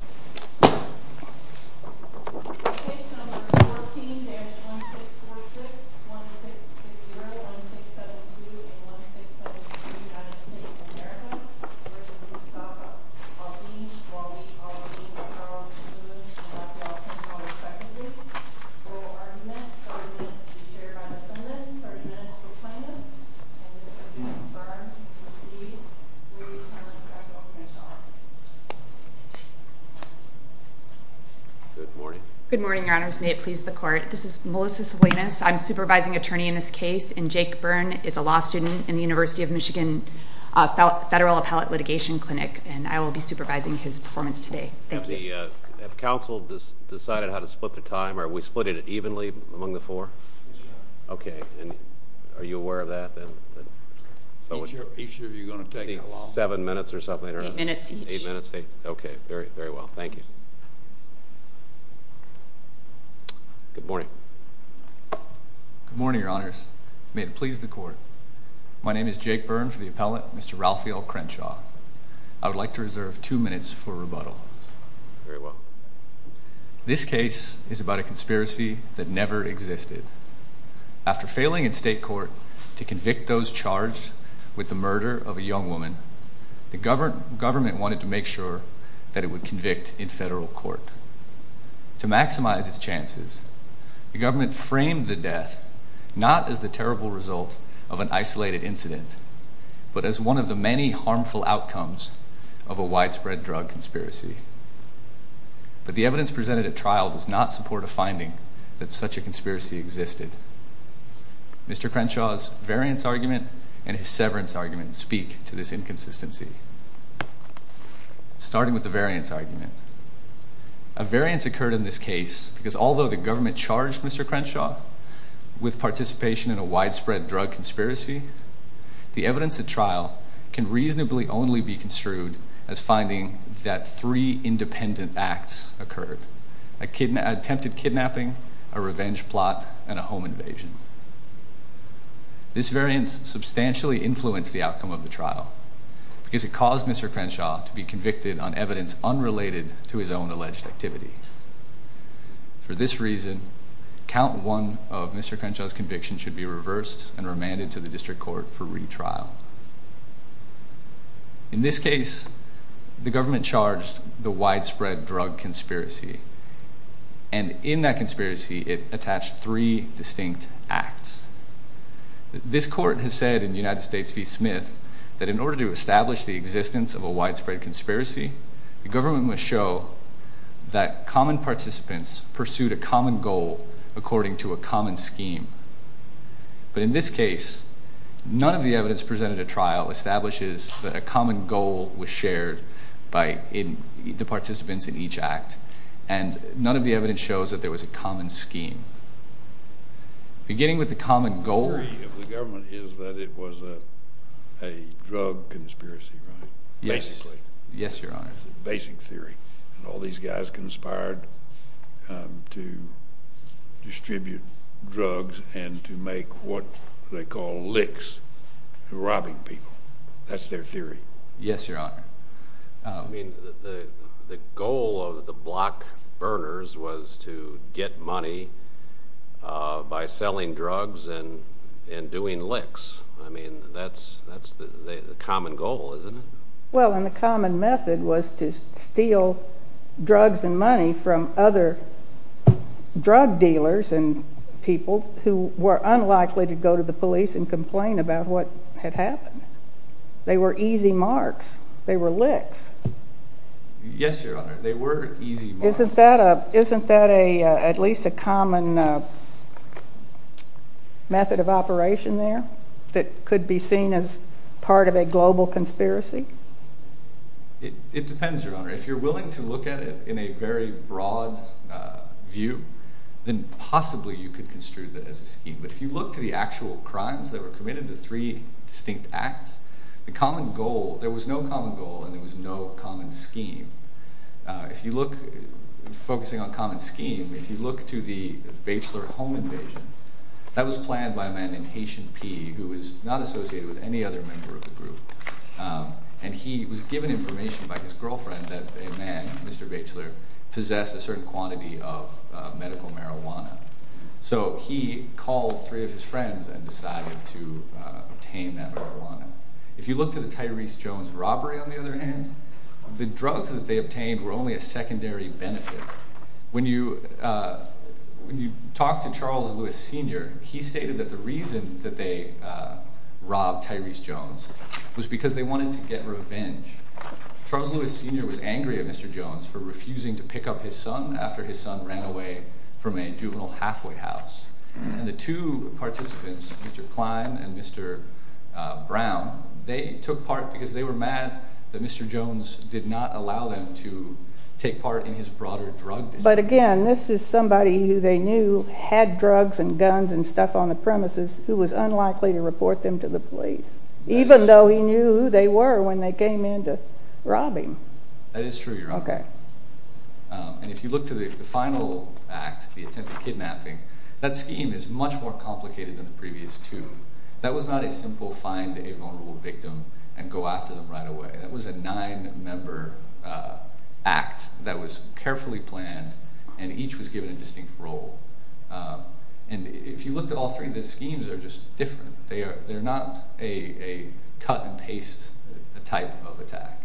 Case number 14-1646, 1660, 1672, and 1672 United States of America v. Mustafa Al-Din Walee Al-Din Charles Lewis and Ralphael Crenshaw respectively. For our next couple of minutes, we'll share our defendants for a minute to explain them. And then we'll turn to see where you found Ralphael Crenshaw. Good morning. Good morning, Your Honors. May it please the Court. This is Melissa Salinas. I'm supervising attorney in this case. And Jake Byrne is a law student in the University of Michigan Federal Appellate Litigation Clinic, and I will be supervising his performance today. Thank you. Have counsel decided how to split the time? Are we splitting it evenly among the four? Yes, Your Honor. Okay. And are you aware of that? Each year you're going to take it along. Seven minutes or something? Eight minutes each. Eight minutes each. Okay. Very well. Thank you. Good morning. Good morning, Your Honors. May it please the Court. My name is Jake Byrne for the appellant, Mr. Ralphael Crenshaw. I would like to reserve two minutes for rebuttal. Very well. This case is about a conspiracy that never existed. After failing in state court to convict those charged with the murder of a young woman, the government wanted to make sure that it would convict in federal court. To maximize its chances, the government framed the death not as the terrible result of an isolated incident, but as one of the many harmful outcomes of a widespread drug conspiracy. But the evidence presented at trial does not support a finding that such a conspiracy existed. Mr. Crenshaw's variance argument and his severance argument speak to this inconsistency. Starting with the variance argument. A variance occurred in this case because although the government charged Mr. Crenshaw with participation in a widespread drug conspiracy, the evidence at trial can reasonably only be construed as finding that three independent acts occurred. An attempted kidnapping, a revenge plot, and a home invasion. This variance substantially influenced the outcome of the trial because it caused Mr. Crenshaw to be convicted on evidence unrelated to his own alleged activity. For this reason, count one of Mr. Crenshaw's conviction should be reversed and remanded to the district court for retrial. In this case, the government charged the widespread drug conspiracy, and in that conspiracy it attached three distinct acts. This court has said in United States v. Smith that in order to establish the existence of a widespread conspiracy, the government must show that common participants pursued a common goal according to a common scheme. But in this case, none of the evidence presented at trial establishes that a common goal was shared by the participants in each act, and none of the evidence shows that there was a common scheme. Beginning with the common goal... The theory of the government is that it was a drug conspiracy, right? Basically. Yes, Your Honor. And all these guys conspired to distribute drugs and to make what they call licks, robbing people. That's their theory? Yes, Your Honor. I mean, the goal of the block burners was to get money by selling drugs and doing licks. I mean, that's the common goal, isn't it? Well, and the common method was to steal drugs and money from other drug dealers and people who were unlikely to go to the police and complain about what had happened. They were easy marks. They were licks. Yes, Your Honor. They were easy marks. Isn't that at least a common method of operation there that could be seen as part of a global conspiracy? It depends, Your Honor. If you're willing to look at it in a very broad view, then possibly you could construe that as a scheme. But if you look to the actual crimes that were committed, the three distinct acts, the common goal... There was no common goal and there was no common scheme. If you look, focusing on common scheme, if you look to the Batchelor home invasion, that was planned by a man named Haitian P. who is not associated with any other member of the group. And he was given information by his girlfriend that a man, Mr. Batchelor, possessed a certain quantity of medical marijuana. So he called three of his friends and decided to obtain that marijuana. If you look to the Tyrese Jones robbery, on the other hand, the drugs that they obtained were only a secondary benefit. When you talk to Charles Lewis Sr., he stated that the reason that they robbed Tyrese Jones was because they wanted to get revenge. Charles Lewis Sr. was angry at Mr. Jones for refusing to pick up his son after his son ran away from a juvenile halfway house. And the two participants, Mr. Klein and Mr. Brown, they took part because they were mad that Mr. Jones did not allow them to take part in his broader drug dispute. But again, this is somebody who they knew had drugs and guns and stuff on the premises who was unlikely to report them to the police. Even though he knew who they were when they came in to rob him. That is true, Your Honor. And if you look to the final act, the attempted kidnapping, that scheme is much more complicated than the previous two. That was not a simple find a vulnerable victim and go after them right away. That was a nine-member act that was carefully planned and each was given a distinct role. And if you looked at all three, the schemes are just different. They are not a cut-and-paste type of attack.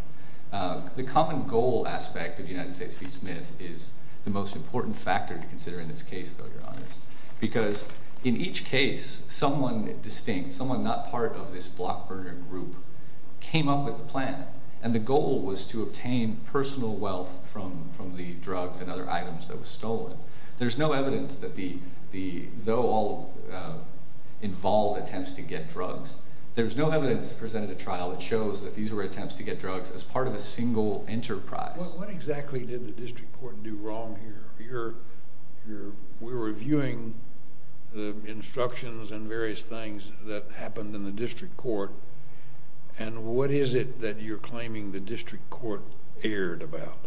The common goal aspect of the United States v. Smith is the most important factor to consider in this case, though, Your Honor. Because in each case, someone distinct, someone not part of this block-burner group came up with a plan. And the goal was to obtain personal wealth from the drugs and other items that were stolen. There is no evidence that the, though all involved attempts to get drugs, there is no evidence that presented a trial that shows that these were attempts to get drugs as part of a single enterprise. What exactly did the district court do wrong here? We're reviewing the instructions and various things that happened in the district court. And what is it that you're claiming the district court erred about?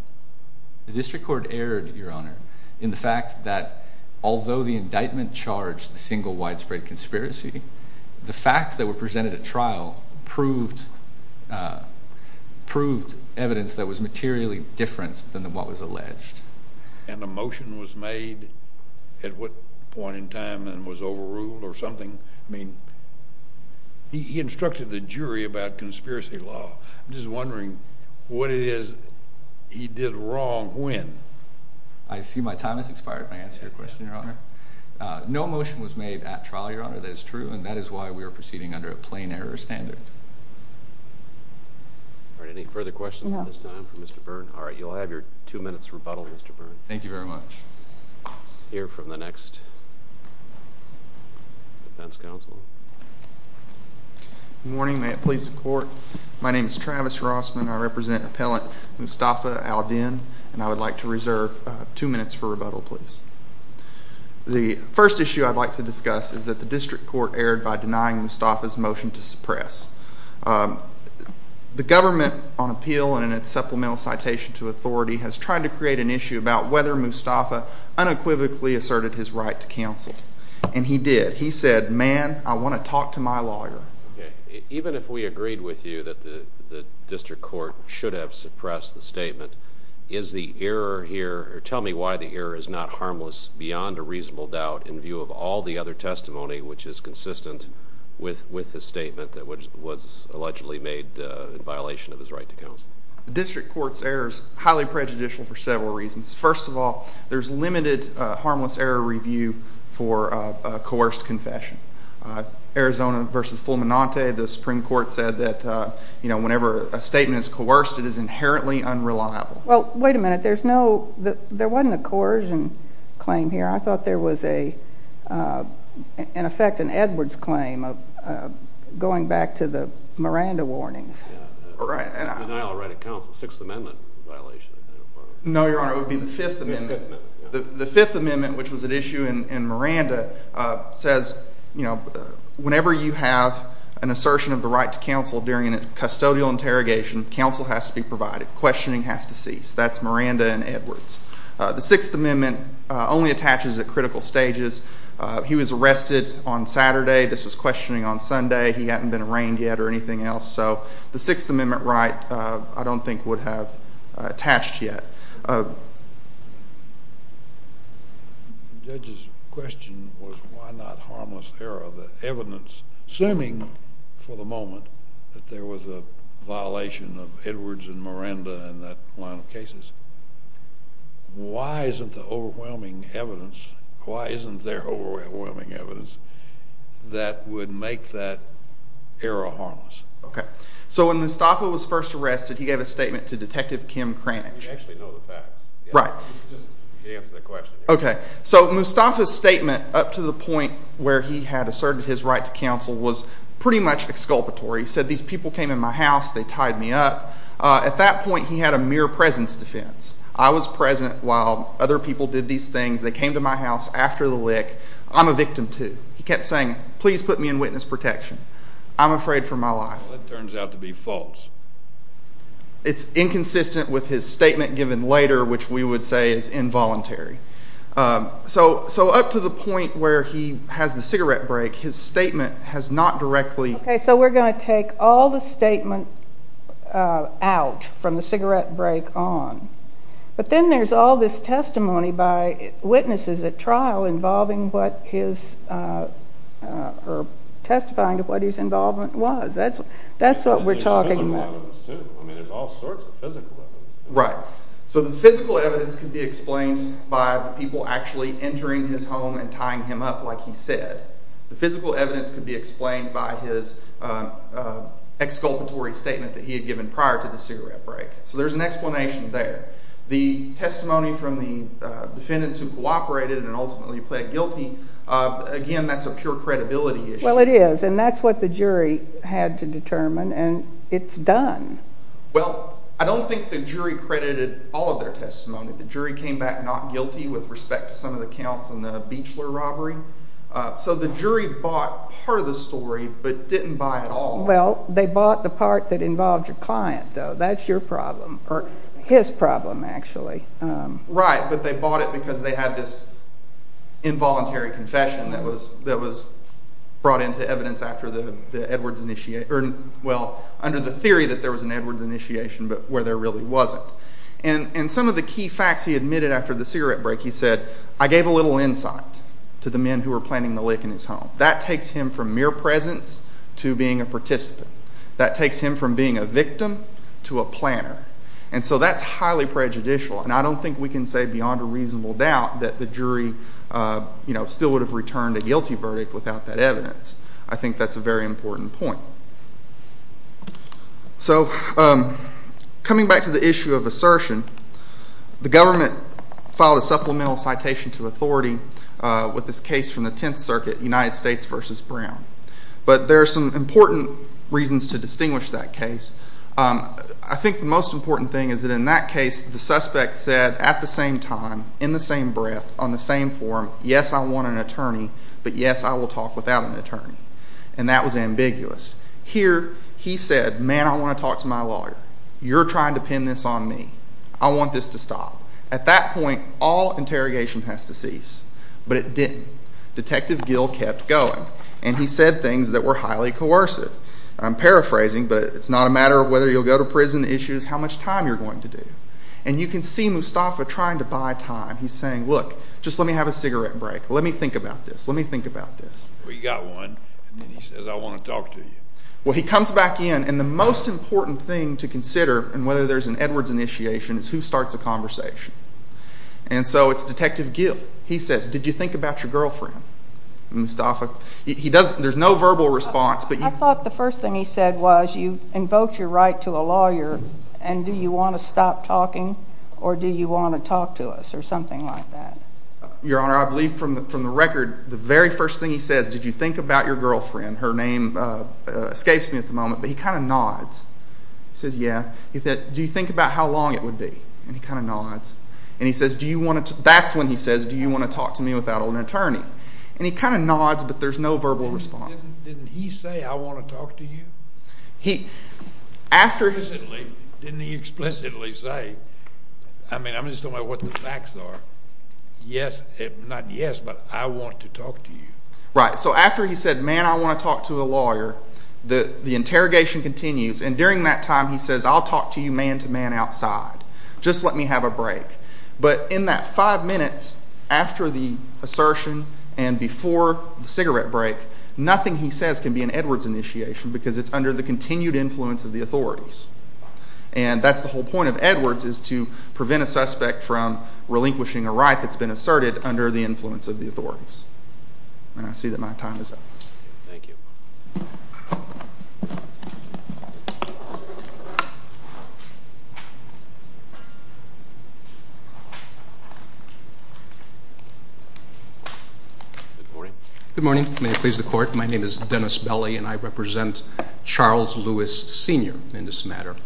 The district court erred, Your Honor, in the fact that although the indictment charged a single widespread conspiracy, the facts that were presented at trial proved evidence that was materially different than what was alleged. And a motion was made at what point in time and was overruled or something? I mean, he instructed the jury about conspiracy law. I'm just wondering what it is he did wrong when. I see my time has expired my answer to your question, Your Honor. No motion was made at trial, Your Honor. That is true. And that is why we are proceeding under a plain error standard. All right. Any further questions at this time for Mr. Byrne? All right. You'll have your two minutes rebuttal, Mr. Byrne. Thank you very much. Let's hear from the next defense counsel. Good morning. May it please the court. My name is Travis Rossman. I represent Appellant Mustafa al-Din. And I would like to reserve two minutes for rebuttal, please. The first issue I'd like to discuss is that the district court erred by denying Mustafa's motion to suppress. The government, on appeal and in its supplemental citation to authority, has tried to create an issue about whether Mustafa unequivocally asserted his right to counsel. And he did. He said, man, I want to talk to my lawyer. Okay. Even if we agreed with you that the district court should have suppressed the statement, is the error here, or tell me why the error is not harmless beyond a reasonable doubt in view of all the other testimony which is consistent with the statement that was allegedly made in violation of his right to counsel? The district court's error is highly prejudicial for several reasons. First of all, there's limited harmless error review for a coerced confession. Arizona versus Fulminante, the Supreme Court said that whenever a statement is coerced, it is inherently unreliable. Well, wait a minute. There wasn't a coercion claim here. I thought there was, in effect, an Edwards claim going back to the Miranda warnings. Denial of right of counsel, Sixth Amendment violation. No, Your Honor, it would be the Fifth Amendment. The Fifth Amendment, which was at issue in Miranda, says, you know, whenever you have an assertion of the right to counsel during a custodial interrogation, counsel has to be provided. Questioning has to cease. That's Miranda and Edwards. The Sixth Amendment only attaches at critical stages. He was arrested on Saturday. This was questioning on Sunday. He hadn't been arraigned yet or anything else. So the Sixth Amendment right I don't think would have attached yet. The judge's question was why not harmless error? The evidence, assuming for the moment that there was a violation of Edwards and Miranda in that line of cases, why isn't the overwhelming evidence, why isn't there overwhelming evidence that would make that error harmless? Okay. So when Mustafa was first arrested, he gave a statement to Detective Kim Cranch. You actually know the facts. Right. Just answer the question. Okay. So Mustafa's statement up to the point where he had asserted his right to counsel was pretty much exculpatory. He said these people came in my house. They tied me up. At that point he had a mere presence defense. I was present while other people did these things. They came to my house after the lick. I'm a victim too. He kept saying, please put me in witness protection. I'm afraid for my life. That turns out to be false. It's inconsistent with his statement given later, which we would say is involuntary. So up to the point where he has the cigarette break, his statement has not directly. Okay. So we're going to take all the statement out from the cigarette break on. But then there's all this testimony by witnesses at trial involving what his or testifying to what his involvement was. That's what we're talking about. I mean, there's all sorts of physical evidence. Right. So the physical evidence could be explained by the people actually entering his home and tying him up like he said. The physical evidence could be explained by his exculpatory statement that he had given prior to the cigarette break. So there's an explanation there. The testimony from the defendants who cooperated and ultimately pled guilty, again, that's a pure credibility issue. Well, it is. And that's what the jury had to determine. And it's done. Well, I don't think the jury credited all of their testimony. The jury came back not guilty with respect to some of the counts in the Beechler robbery. So the jury bought part of the story but didn't buy it all. Well, they bought the part that involved your client, though. So that's your problem or his problem, actually. Right, but they bought it because they had this involuntary confession that was brought into evidence after the Edwards initiation or, well, under the theory that there was an Edwards initiation but where there really wasn't. And some of the key facts he admitted after the cigarette break, he said, I gave a little insight to the men who were planting the lick in his home. That takes him from mere presence to being a participant. That takes him from being a victim to a planner. And so that's highly prejudicial. And I don't think we can say beyond a reasonable doubt that the jury, you know, still would have returned a guilty verdict without that evidence. I think that's a very important point. So coming back to the issue of assertion, the government filed a supplemental citation to authority with this case from the Tenth Circuit, United States v. Brown. But there are some important reasons to distinguish that case. I think the most important thing is that in that case the suspect said at the same time, in the same breath, on the same forum, yes, I want an attorney, but yes, I will talk without an attorney. And that was ambiguous. Here he said, man, I want to talk to my lawyer. You're trying to pin this on me. I want this to stop. At that point, all interrogation has to cease. But it didn't. Detective Gill kept going, and he said things that were highly coercive. I'm paraphrasing, but it's not a matter of whether you'll go to prison. The issue is how much time you're going to do. And you can see Mustafa trying to buy time. He's saying, look, just let me have a cigarette break. Let me think about this. Let me think about this. Well, he got one, and then he says, I want to talk to you. Well, he comes back in, and the most important thing to consider, and whether there's an Edwards initiation, is who starts the conversation. And so it's Detective Gill. He says, did you think about your girlfriend, Mustafa? There's no verbal response. I thought the first thing he said was you invoked your right to a lawyer, and do you want to stop talking, or do you want to talk to us, or something like that. Your Honor, I believe from the record, the very first thing he says, did you think about your girlfriend, her name escapes me at the moment, but he kind of nods. He says, yeah. He said, do you think about how long it would be? And he kind of nods. That's when he says, do you want to talk to me without an attorney? And he kind of nods, but there's no verbal response. Didn't he say, I want to talk to you? Didn't he explicitly say? I mean, I'm just talking about what the facts are. Yes, not yes, but I want to talk to you. Right. So after he said, man, I want to talk to a lawyer, the interrogation continues, and during that time he says, I'll talk to you man-to-man outside. Just let me have a break. But in that five minutes after the assertion and before the cigarette break, nothing he says can be an Edwards initiation because it's under the continued influence of the authorities. And that's the whole point of Edwards is to prevent a suspect from relinquishing a right that's been asserted under the influence of the authorities. And I see that my time is up. Thank you. Good morning. Good morning. May it please the Court. My name is Dennis Belli, and I represent Charles Lewis Sr. in this matter.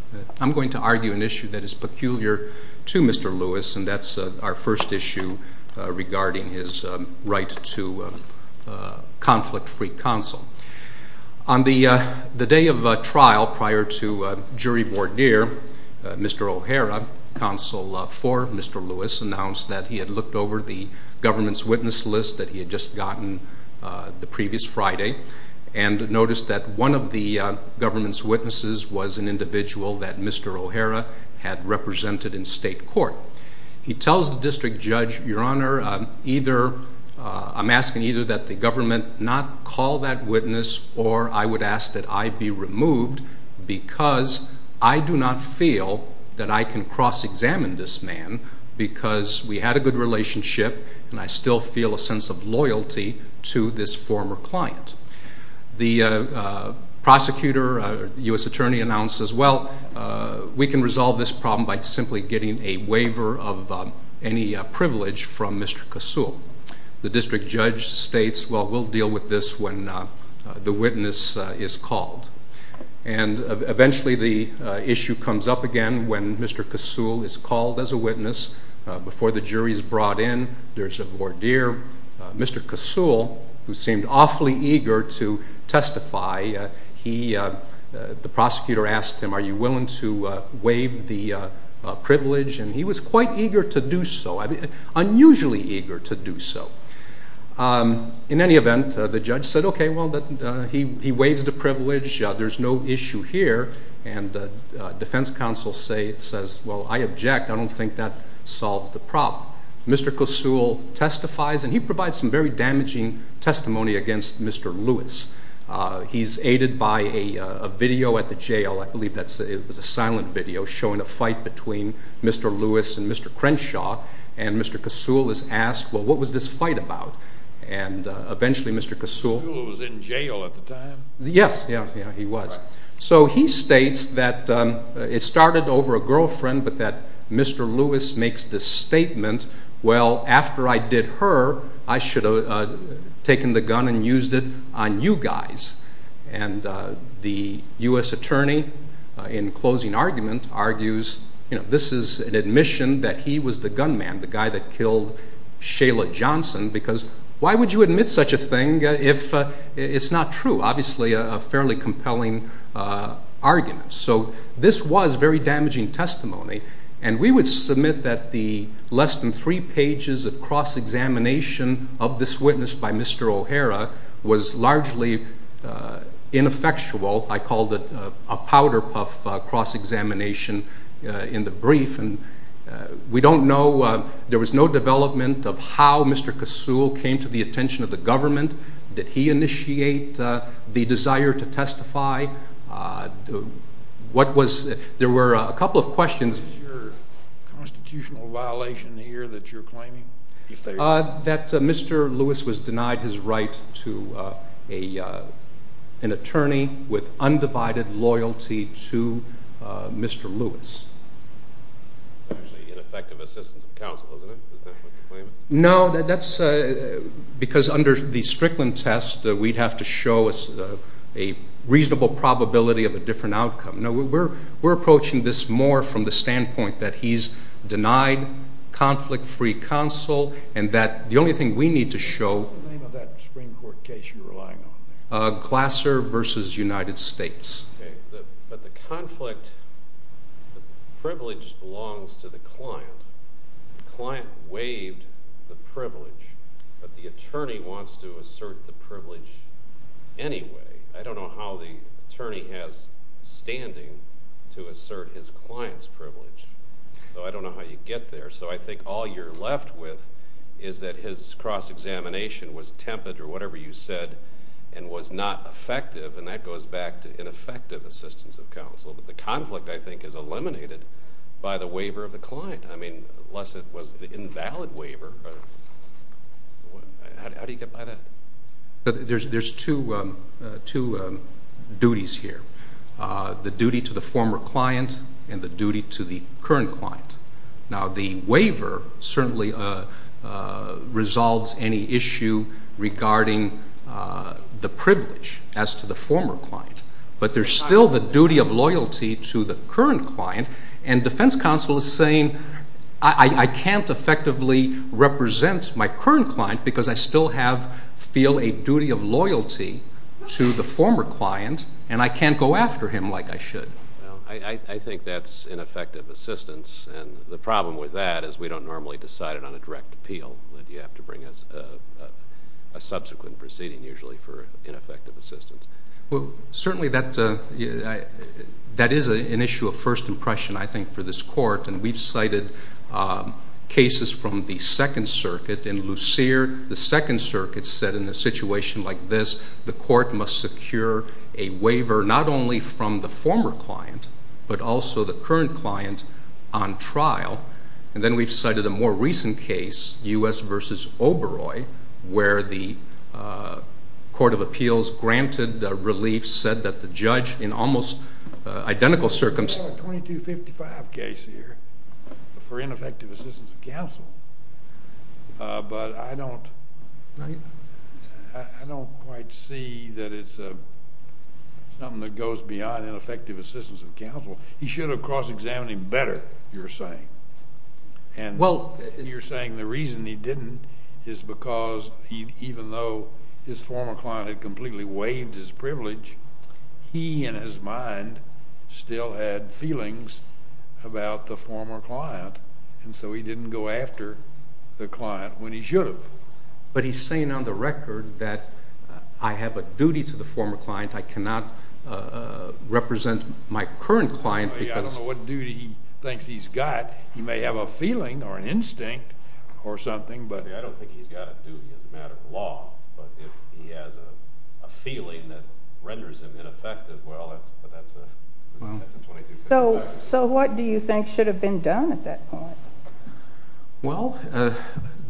I'm going to argue an issue that is peculiar to Mr. Lewis, and that's our first issue regarding his right to conflict-free counsel. On the day of trial prior to jury voir dire, Mr. O'Hara, counsel for Mr. Lewis, announced that he had looked over the government's witness list that he had just gotten the previous Friday and noticed that one of the government's witnesses was an individual that Mr. O'Hara had represented in state court. He tells the district judge, Your Honor, I'm asking either that the government not call that witness or I would ask that I be removed because I do not feel that I can cross-examine this man because we had a good relationship and I still feel a sense of loyalty to this former client. The prosecutor, U.S. Attorney, announced as well, we can resolve this problem by simply getting a waiver of any privilege from Mr. Kasul. The district judge states, well, we'll deal with this when the witness is called. And eventually the issue comes up again when Mr. Kasul is called as a witness. Before the jury is brought in, there's a voir dire. Mr. Kasul, who seemed awfully eager to testify, the prosecutor asked him, are you willing to waive the privilege? And he was quite eager to do so, unusually eager to do so. In any event, the judge said, okay, well, he waives the privilege. There's no issue here. And the defense counsel says, well, I object. I don't think that solves the problem. Mr. Kasul testifies, and he provides some very damaging testimony against Mr. Lewis. He's aided by a video at the jail. I believe it was a silent video showing a fight between Mr. Lewis and Mr. Crenshaw. And Mr. Kasul is asked, well, what was this fight about? And eventually Mr. Kasul was in jail at the time. Yes, he was. So he states that it started over a girlfriend, but that Mr. Lewis makes this statement, well, after I did her, I should have taken the gun and used it on you guys. And the U.S. attorney, in closing argument, argues, you know, this is an admission that he was the gunman, the guy that killed Shayla Johnson, because why would you admit such a thing if it's not true? Obviously a fairly compelling argument. So this was very damaging testimony, and we would submit that the less than three pages of cross-examination of this witness by Mr. O'Hara was largely ineffectual. I called it a powder puff cross-examination in the brief. And we don't know. There was no development of how Mr. Kasul came to the attention of the government. Did he initiate the desire to testify? There were a couple of questions. Is there a constitutional violation here that you're claiming? That Mr. Lewis was denied his right to an attorney with undivided loyalty to Mr. Lewis. It's actually ineffective assistance of counsel, isn't it? Is that what the claim is? No, that's because under the Strickland test we'd have to show a reasonable probability of a different outcome. No, we're approaching this more from the standpoint that he's denied conflict-free counsel and that the only thing we need to show— What's the name of that Supreme Court case you're relying on? Glasser v. United States. But the conflict privilege belongs to the client. The client waived the privilege, but the attorney wants to assert the privilege anyway. I don't know how the attorney has standing to assert his client's privilege. So I don't know how you get there. So I think all you're left with is that his cross-examination was tempered, or whatever you said, and was not effective, and that goes back to ineffective assistance of counsel. But the conflict, I think, is eliminated by the waiver of the client. I mean, unless it was an invalid waiver. How do you get by that? There's two duties here, the duty to the former client and the duty to the current client. Now, the waiver certainly resolves any issue regarding the privilege as to the former client, but there's still the duty of loyalty to the current client, and defense counsel is saying I can't effectively represent my current client because I still feel a duty of loyalty to the former client, and I can't go after him like I should. I think that's ineffective assistance, and the problem with that is we don't normally decide it on a direct appeal. You have to bring a subsequent proceeding usually for ineffective assistance. Well, certainly that is an issue of first impression, I think, for this court, and we've cited cases from the Second Circuit. In Lucere, the Second Circuit said in a situation like this, the court must secure a waiver not only from the former client but also the current client on trial. And then we've cited a more recent case, U.S. v. Oberoi, where the Court of Appeals granted relief, said that the judge in almost identical circumstances There's a 2255 case here for ineffective assistance of counsel, but I don't quite see that it's something that goes beyond ineffective assistance of counsel. He should have cross-examined him better, you're saying. And you're saying the reason he didn't is because even though his former client had completely waived his privilege, he in his mind still had feelings about the former client, and so he didn't go after the client when he should have. But he's saying on the record that I have a duty to the former client. I cannot represent my current client because— He may have a feeling or an instinct or something, but— See, I don't think he's got a duty as a matter of law, but if he has a feeling that renders him ineffective, well, that's a 2255. So what do you think should have been done at that point? Well,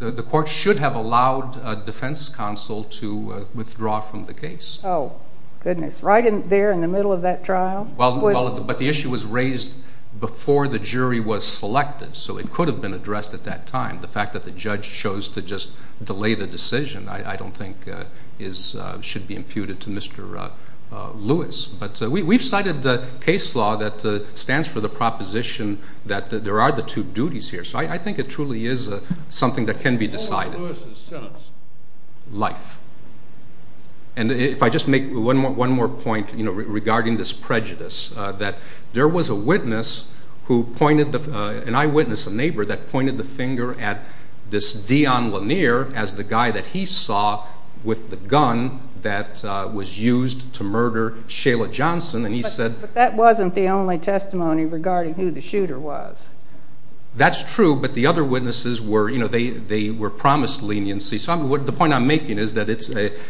the court should have allowed a defense counsel to withdraw from the case. Oh, goodness. Right there in the middle of that trial? But the issue was raised before the jury was selected, so it could have been addressed at that time. The fact that the judge chose to just delay the decision I don't think should be imputed to Mr. Lewis. But we've cited case law that stands for the proposition that there are the two duties here, so I think it truly is something that can be decided. What was Lewis's sentence? Life. And if I just make one more point regarding this prejudice, that there was a witness who pointed—and I witnessed a neighbor that pointed the finger at this Dion Lanier as the guy that he saw with the gun that was used to murder Shayla Johnson, and he said— But that wasn't the only testimony regarding who the shooter was. That's true, but the other witnesses were—they were promised leniency. So the point I'm making is that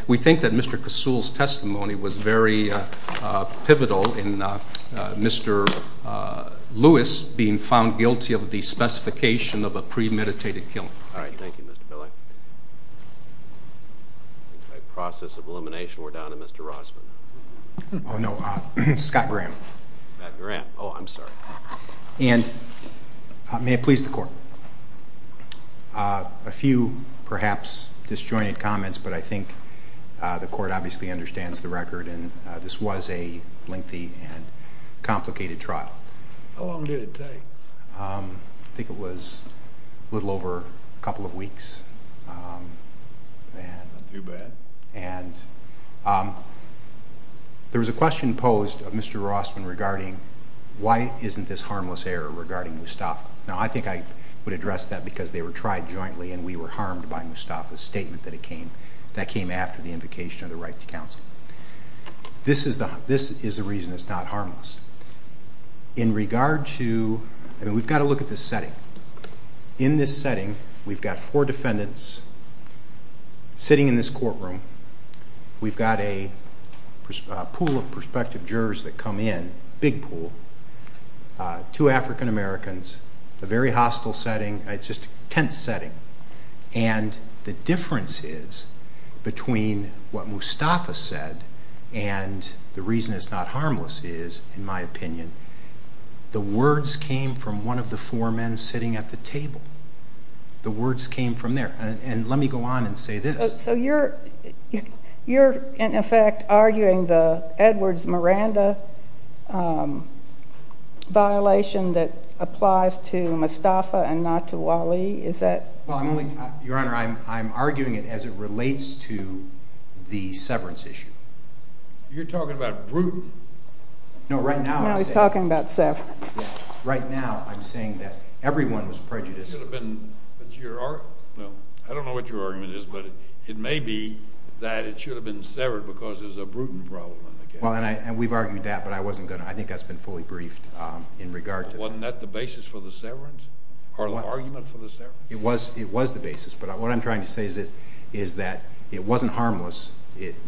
we think that Mr. Kasul's testimony was very pivotal in Mr. Lewis being found guilty of the specification of a premeditated killing. All right. Thank you, Mr. Pillai. In the process of elimination, we're down to Mr. Rossman. Oh, no. Scott Graham. Scott Graham. Oh, I'm sorry. And may it please the Court, a few perhaps disjointed comments, but I think the Court obviously understands the record, and this was a lengthy and complicated trial. How long did it take? I think it was a little over a couple of weeks. Not too bad. And there was a question posed of Mr. Rossman regarding why isn't this harmless error regarding Mustafa. Now, I think I would address that because they were tried jointly, and we were harmed by Mustafa's statement that came after the invocation of the right to counsel. This is the reason it's not harmless. In regard to—I mean, we've got to look at this setting. In this setting, we've got four defendants sitting in this courtroom. We've got a pool of prospective jurors that come in, a big pool, two African Americans, a very hostile setting. It's just a tense setting. And the difference is between what Mustafa said and the reason it's not harmless is, in my opinion, the words came from one of the four men sitting at the table. The words came from there. And let me go on and say this. So you're, in effect, arguing the Edwards-Miranda violation that applies to Mustafa and not to Wally? Well, Your Honor, I'm arguing it as it relates to the severance issue. You're talking about Bruton? No, right now I'm saying— No, he's talking about severance. Right now I'm saying that everyone was prejudiced. I don't know what your argument is, but it may be that it should have been severed because there's a Bruton problem. Well, and we've argued that, but I wasn't going to. I think that's been fully briefed in regard to— Wasn't that the basis for the severance or the argument for the severance? It was the basis, but what I'm trying to say is that it wasn't harmless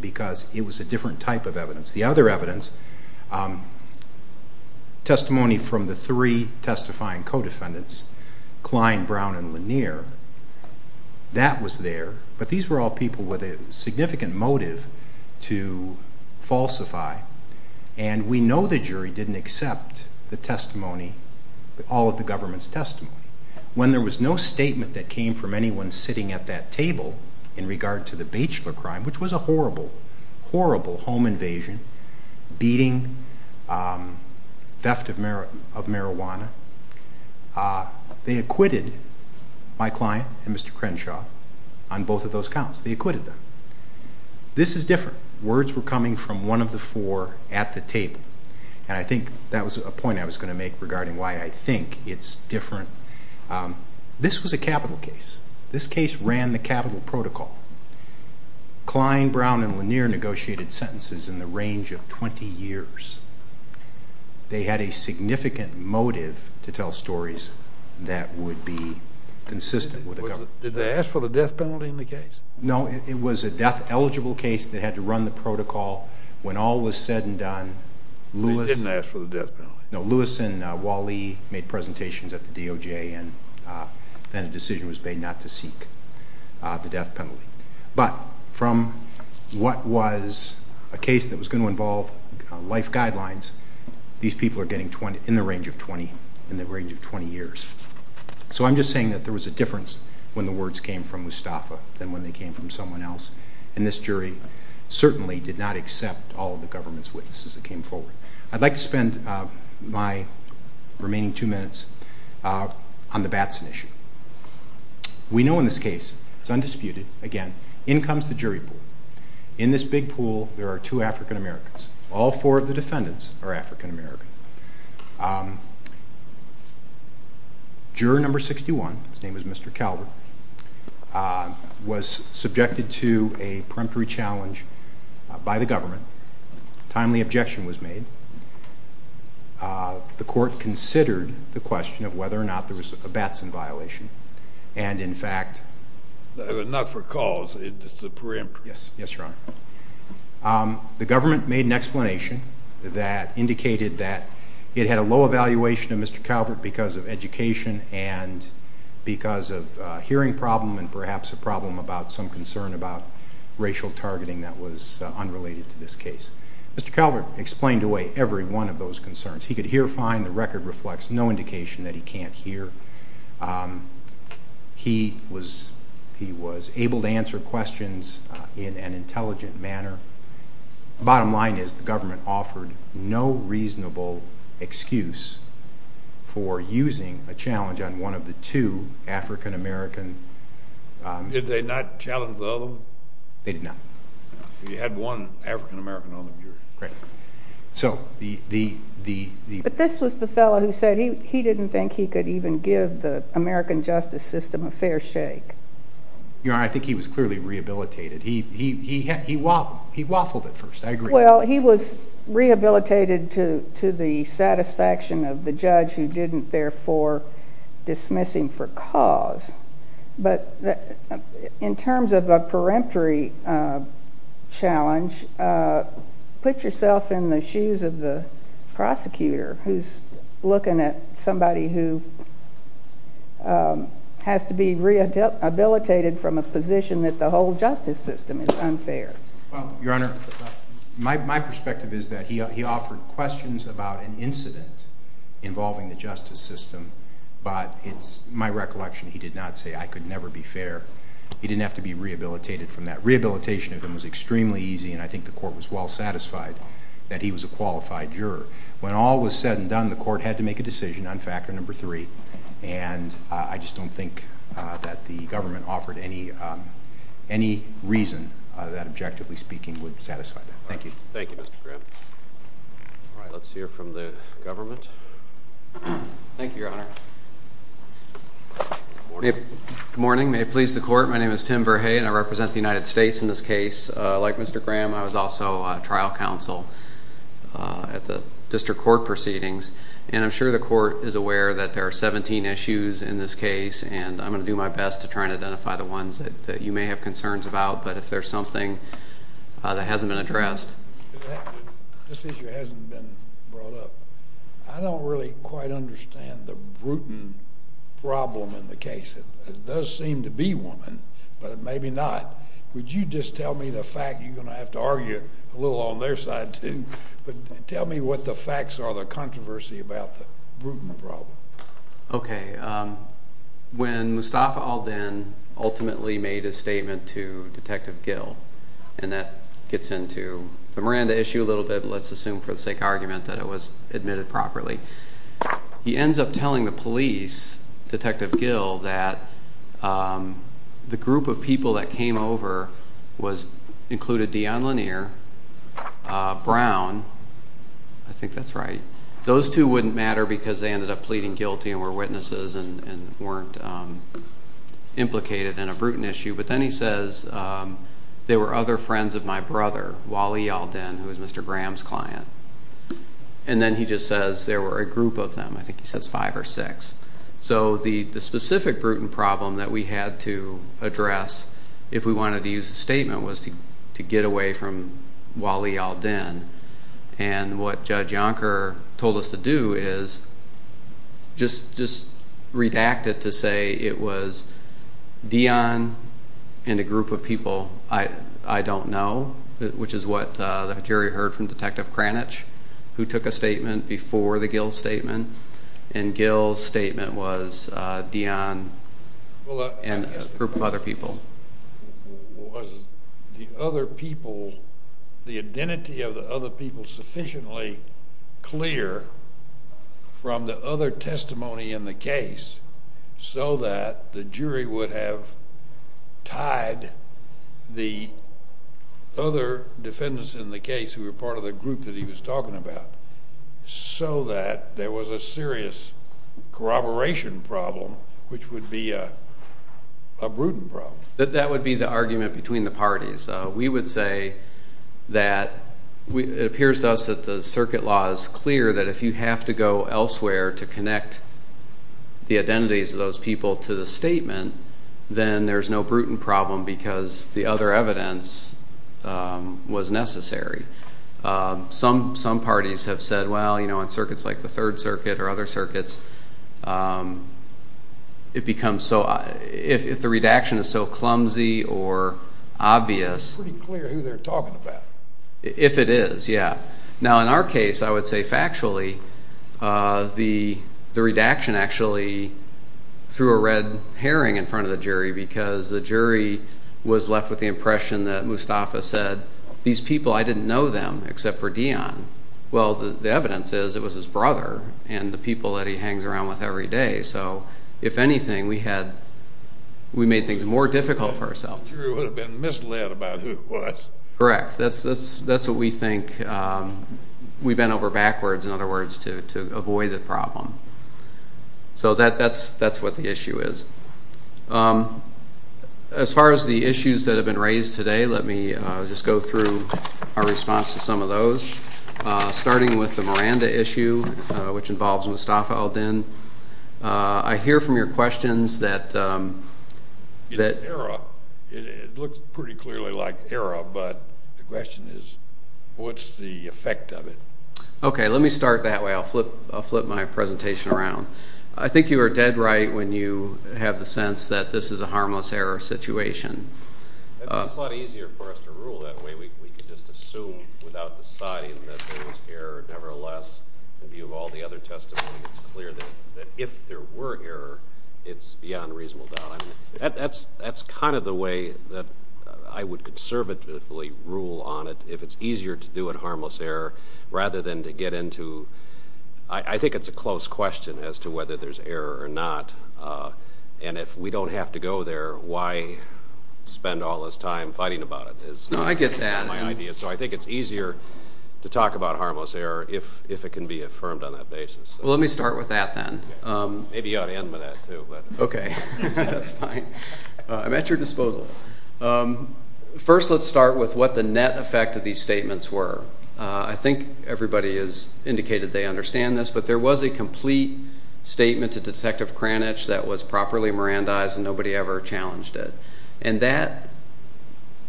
because it was a different type of evidence. The other evidence, testimony from the three testifying co-defendants, Klein, Brown, and Lanier, that was there. But these were all people with a significant motive to falsify. And we know the jury didn't accept the testimony, all of the government's testimony. When there was no statement that came from anyone sitting at that table in regard to the Baechler crime, which was a horrible, horrible home invasion, beating, theft of marijuana, they acquitted my client and Mr. Crenshaw on both of those counts. They acquitted them. This is different. Words were coming from one of the four at the table, and I think that was a point I was going to make regarding why I think it's different. This was a capital case. This case ran the capital protocol. Klein, Brown, and Lanier negotiated sentences in the range of 20 years. They had a significant motive to tell stories that would be consistent with the government. Did they ask for the death penalty in the case? No, it was a death-eligible case that had to run the protocol. When all was said and done, Lewis and Wally made presentations at the DOJ, and then a decision was made not to seek the death penalty. But from what was a case that was going to involve life guidelines, these people are getting in the range of 20 years. So I'm just saying that there was a difference when the words came from Mustafa than when they came from someone else. And this jury certainly did not accept all of the government's witnesses that came forward. I'd like to spend my remaining two minutes on the Batson issue. We know in this case, it's undisputed, again, in comes the jury pool. In this big pool there are two African-Americans. All four of the defendants are African-American. Juror number 61, his name is Mr. Calvert, was subjected to a preemptory challenge by the government. A timely objection was made. The court considered the question of whether or not there was a Batson violation, and in fact... Not for cause, it's a preemptory. Yes, Your Honor. The government made an explanation that indicated that it had a low evaluation of Mr. Calvert because of education and because of a hearing problem and perhaps a problem about some concern about racial targeting that was unrelated to this case. Mr. Calvert explained away every one of those concerns. He could hear fine. The record reflects no indication that he can't hear. He was able to answer questions in an intelligent manner. Bottom line is the government offered no reasonable excuse for using a challenge on one of the two African-American... Did they not challenge the other one? They did not. You had one African-American on the jury. Correct. So the... But this was the fellow who said he didn't think he could even give the American justice system a fair shake. Your Honor, I think he was clearly rehabilitated. He waffled at first. I agree. Well, he was rehabilitated to the satisfaction of the judge who didn't therefore dismiss him for cause. But in terms of a peremptory challenge, put yourself in the shoes of the prosecutor who's looking at somebody who has to be rehabilitated from a position that the whole justice system is unfair. Your Honor, my perspective is that he offered questions about an incident involving the justice system, but it's my recollection he did not say, I could never be fair. He didn't have to be rehabilitated from that. Rehabilitation of him was extremely easy, and I think the court was well satisfied that he was a qualified juror. When all was said and done, the court had to make a decision on factor number three. And I just don't think that the government offered any reason that, objectively speaking, would satisfy that. Thank you. Thank you, Mr. Graham. All right, let's hear from the government. Thank you, Your Honor. Good morning. Good morning. May it please the court, my name is Tim Verhey, and I represent the United States in this case. Like Mr. Graham, I was also trial counsel at the district court proceedings, and I'm sure the court is aware that there are 17 issues in this case, and I'm going to do my best to try and identify the ones that you may have concerns about, but if there's something that hasn't been addressed. This issue hasn't been brought up. I don't really quite understand the Bruton problem in the case. It does seem to be one, but it may be not. Would you just tell me the fact? You're going to have to argue a little on their side too, but tell me what the facts are, the controversy about the Bruton problem. Okay. When Mustafa al-Din ultimately made a statement to Detective Gill, and that gets into the Miranda issue a little bit, let's assume for the sake of argument that it was admitted properly. He ends up telling the police, Detective Gill, that the group of people that came over included Dion Lanier, Brown, I think that's right. Those two wouldn't matter because they ended up pleading guilty and were witnesses and weren't implicated in a Bruton issue. But then he says, there were other friends of my brother, Wally al-Din, who was Mr. Graham's client. And then he just says there were a group of them. I think he says five or six. So the specific Bruton problem that we had to address, if we wanted to use the statement, was to get away from Wally al-Din. And what Judge Yonker told us to do is just redact it to say it was Dion and a group of people I don't know, which is what the jury heard from Detective Kranich, who took a statement before the Gill statement. And Gill's statement was Dion and a group of other people. Was the other people, the identity of the other people, sufficiently clear from the other testimony in the case so that the jury would have tied the other defendants in the case who were part of the group that he was talking about so that there was a serious corroboration problem, which would be a Bruton problem? That would be the argument between the parties. We would say that it appears to us that the circuit law is clear that if you have to go elsewhere to connect the identities of those people to the statement, then there's no Bruton problem because the other evidence was necessary. Some parties have said, well, you know, in circuits like the Third Circuit or other circuits, it becomes so, if the redaction is so clumsy or obvious. It's pretty clear who they're talking about. If it is, yeah. Now in our case, I would say factually, the redaction actually threw a red herring in front of the jury because the jury was left with the impression that Mustafa said, these people, I didn't know them except for Dion. Well, the evidence is it was his brother and the people that he hangs around with every day. So if anything, we made things more difficult for ourselves. The jury would have been misled about who it was. Correct. That's what we think. So that's what the issue is. As far as the issues that have been raised today, let me just go through our response to some of those. Starting with the Miranda issue, which involves Mustafa al-Din, I hear from your questions that It's era. It looks pretty clearly like era, but the question is, what's the effect of it? Okay, let me start that way. I'll flip my presentation around. I think you are dead right when you have the sense that this is a harmless error situation. It's a lot easier for us to rule that way. We can just assume without deciding that there was error. Nevertheless, in view of all the other testimony, it's clear that if there were error, it's beyond reasonable doubt. That's kind of the way that I would conservatively rule on it, if it's easier to do it harmless error rather than to get into, I think it's a close question as to whether there's error or not. And if we don't have to go there, why spend all this time fighting about it? I get that. So I think it's easier to talk about harmless error if it can be affirmed on that basis. Well, let me start with that then. Maybe you ought to end with that too. Okay, that's fine. I'm at your disposal. First, let's start with what the net effect of these statements were. I think everybody has indicated they understand this, but there was a complete statement to Detective Kranich that was properly Mirandized and nobody ever challenged it. And that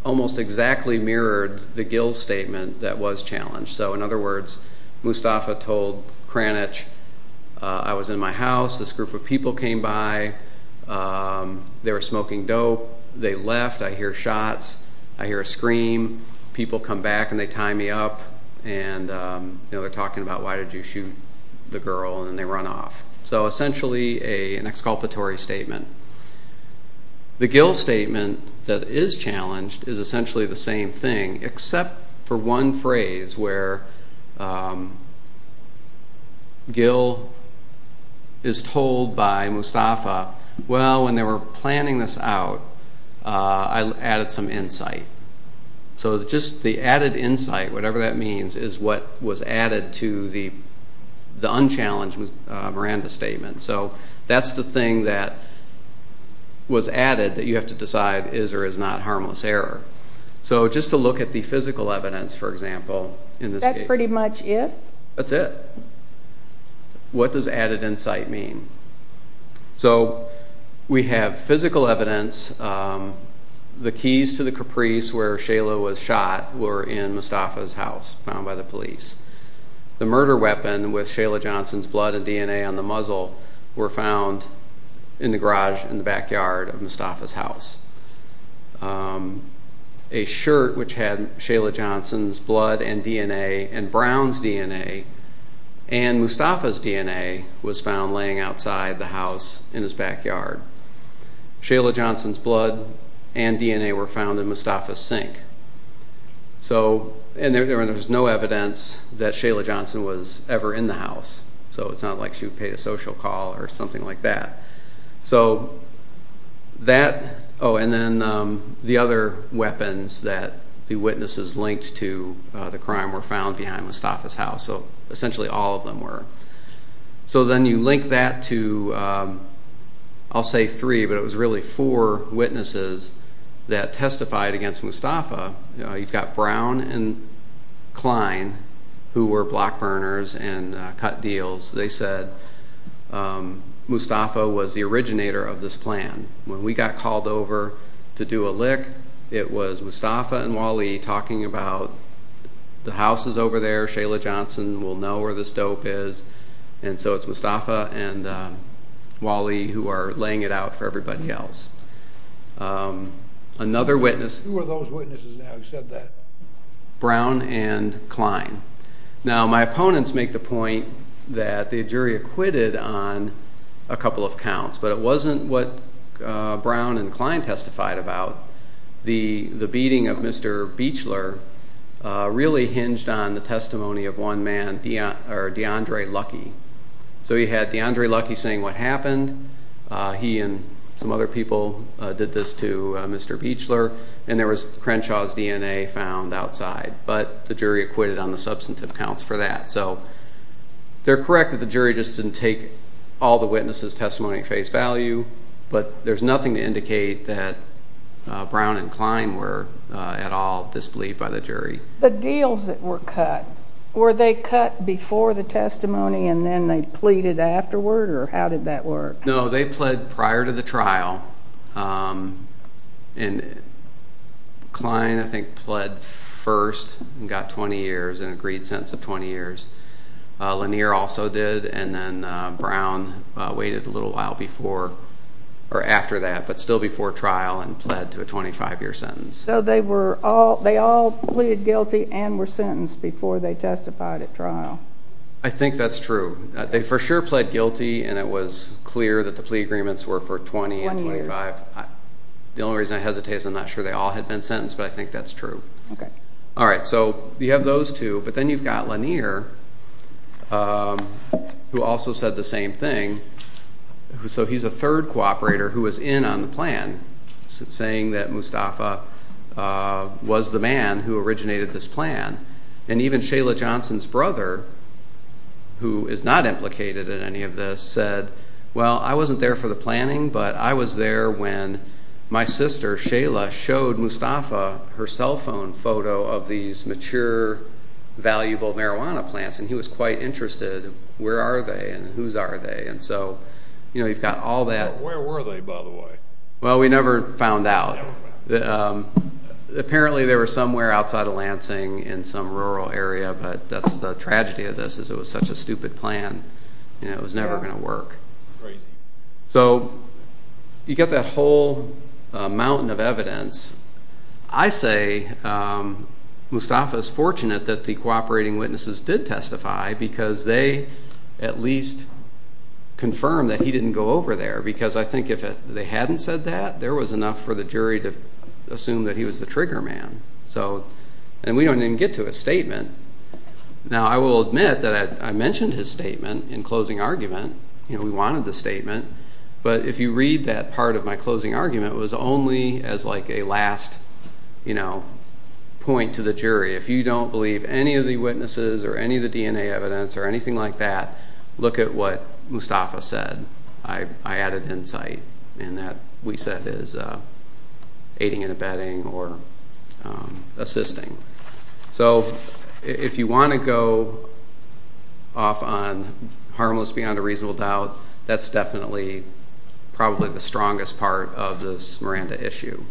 almost exactly mirrored the Gill's statement that was challenged. So in other words, Mustafa told Kranich, I was in my house, this group of people came by, they were smoking dope, they left, I hear shots, I hear a scream, people come back and they tie me up and they're talking about why did you shoot the girl and then they run off. So essentially an exculpatory statement. The Gill statement that is challenged is essentially the same thing, except for one phrase where Gill is told by Mustafa, well, when they were planning this out, I added some insight. So just the added insight, whatever that means, is what was added to the unchallenged Miranda statement. So that's the thing that was added that you have to decide is or is not harmless error. So just to look at the physical evidence, for example, in this case. Is that pretty much it? That's it. What does added insight mean? So we have physical evidence. The keys to the caprice where Shayla was shot were in Mustafa's house, found by the police. The murder weapon with Shayla Johnson's blood and DNA on the muzzle were found in the garage in the backyard of Mustafa's house. A shirt which had Shayla Johnson's blood and DNA and Brown's DNA and Mustafa's DNA was found laying outside the house in his backyard. Shayla Johnson's blood and DNA were found in Mustafa's sink. And there was no evidence that Shayla Johnson was ever in the house, so it's not like she would pay a social call or something like that. So that, oh, and then the other weapons that the witnesses linked to the crime were found behind Mustafa's house. So essentially all of them were. So then you link that to, I'll say three, but it was really four witnesses that testified against Mustafa. You've got Brown and Klein who were block burners and cut deals. They said Mustafa was the originator of this plan. When we got called over to do a lick, it was Mustafa and Wally talking about the house is over there, Shayla Johnson will know where this dope is, and so it's Mustafa and Wally who are laying it out for everybody else. Another witness. Who are those witnesses now who said that? Brown and Klein. Now my opponents make the point that the jury acquitted on a couple of counts, but it wasn't what Brown and Klein testified about. The beating of Mr. Beachler really hinged on the testimony of one man, D'Andre Lucky. So you had D'Andre Lucky saying what happened. He and some other people did this to Mr. Beachler, and there was Crenshaw's DNA found outside, but the jury acquitted on the substantive counts for that. So they're correct that the jury just didn't take all the witnesses' testimony at face value, but there's nothing to indicate that Brown and Klein were at all disbelieved by the jury. The deals that were cut, were they cut before the testimony and then they pleaded afterward, or how did that work? No, they pled prior to the trial, and Klein, I think, pled first and got 20 years, an agreed sentence of 20 years. Lanier also did, and then Brown waited a little while before or after that, but still before trial and pled to a 25-year sentence. So they all pleaded guilty and were sentenced before they testified at trial. I think that's true. They for sure pled guilty, and it was clear that the plea agreements were for 20 and 25. One year. The only reason I hesitate is I'm not sure they all had been sentenced, but I think that's true. Okay. All right, so you have those two, but then you've got Lanier, who also said the same thing. So he's a third cooperator who was in on the plan, saying that Mustafa was the man who originated this plan, and even Shayla Johnson's brother, who is not implicated in any of this, said, well, I wasn't there for the planning, but I was there when my sister Shayla showed Mustafa her cell phone photo of these mature, valuable marijuana plants, and he was quite interested, where are they and whose are they? And so you've got all that. Where were they, by the way? Well, we never found out. Apparently they were somewhere outside of Lansing in some rural area, but that's the tragedy of this is it was such a stupid plan. It was never going to work. So you've got that whole mountain of evidence. I say Mustafa is fortunate that the cooperating witnesses did testify because they at least confirmed that he didn't go over there, because I think if they hadn't said that, there was enough for the jury to assume that he was the trigger man. And we don't even get to his statement. Now, I will admit that I mentioned his statement in closing argument. We wanted the statement. But if you read that part of my closing argument, it was only as like a last point to the jury. If you don't believe any of the witnesses or any of the DNA evidence or anything like that, look at what Mustafa said. I added insight. And that, we said, is aiding and abetting or assisting. So if you want to go off on harmless beyond a reasonable doubt, that's definitely probably the strongest part of this Miranda issue.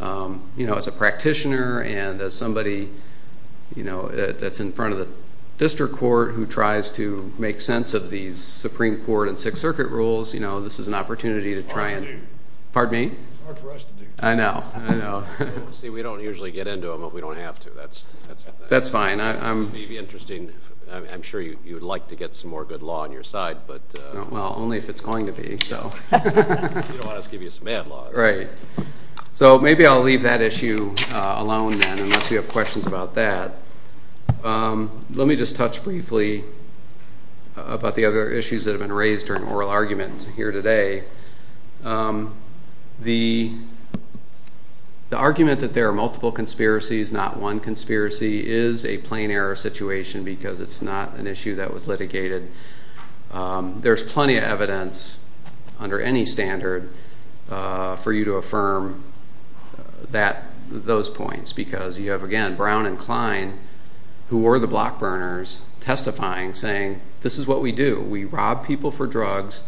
As a practitioner and as somebody that's in front of the district court who tries to make sense of these Supreme Court and Sixth Circuit rules, this is an opportunity to try and do. Pardon me? It's hard for us to do. I know. See, we don't usually get into them, but we don't have to. That's fine. It would be interesting. I'm sure you would like to get some more good law on your side. Well, only if it's going to be. You don't want us to give you some bad law. Right. So maybe I'll leave that issue alone then, unless you have questions about that. Let me just touch briefly about the other issues that have been raised during oral arguments here today. The argument that there are multiple conspiracies, not one conspiracy, is a plain error situation because it's not an issue that was litigated. There's plenty of evidence under any standard for you to affirm those points because you have, again, Brown and Klein, who were the block burners, testifying, saying this is what we do. We rob people for drugs,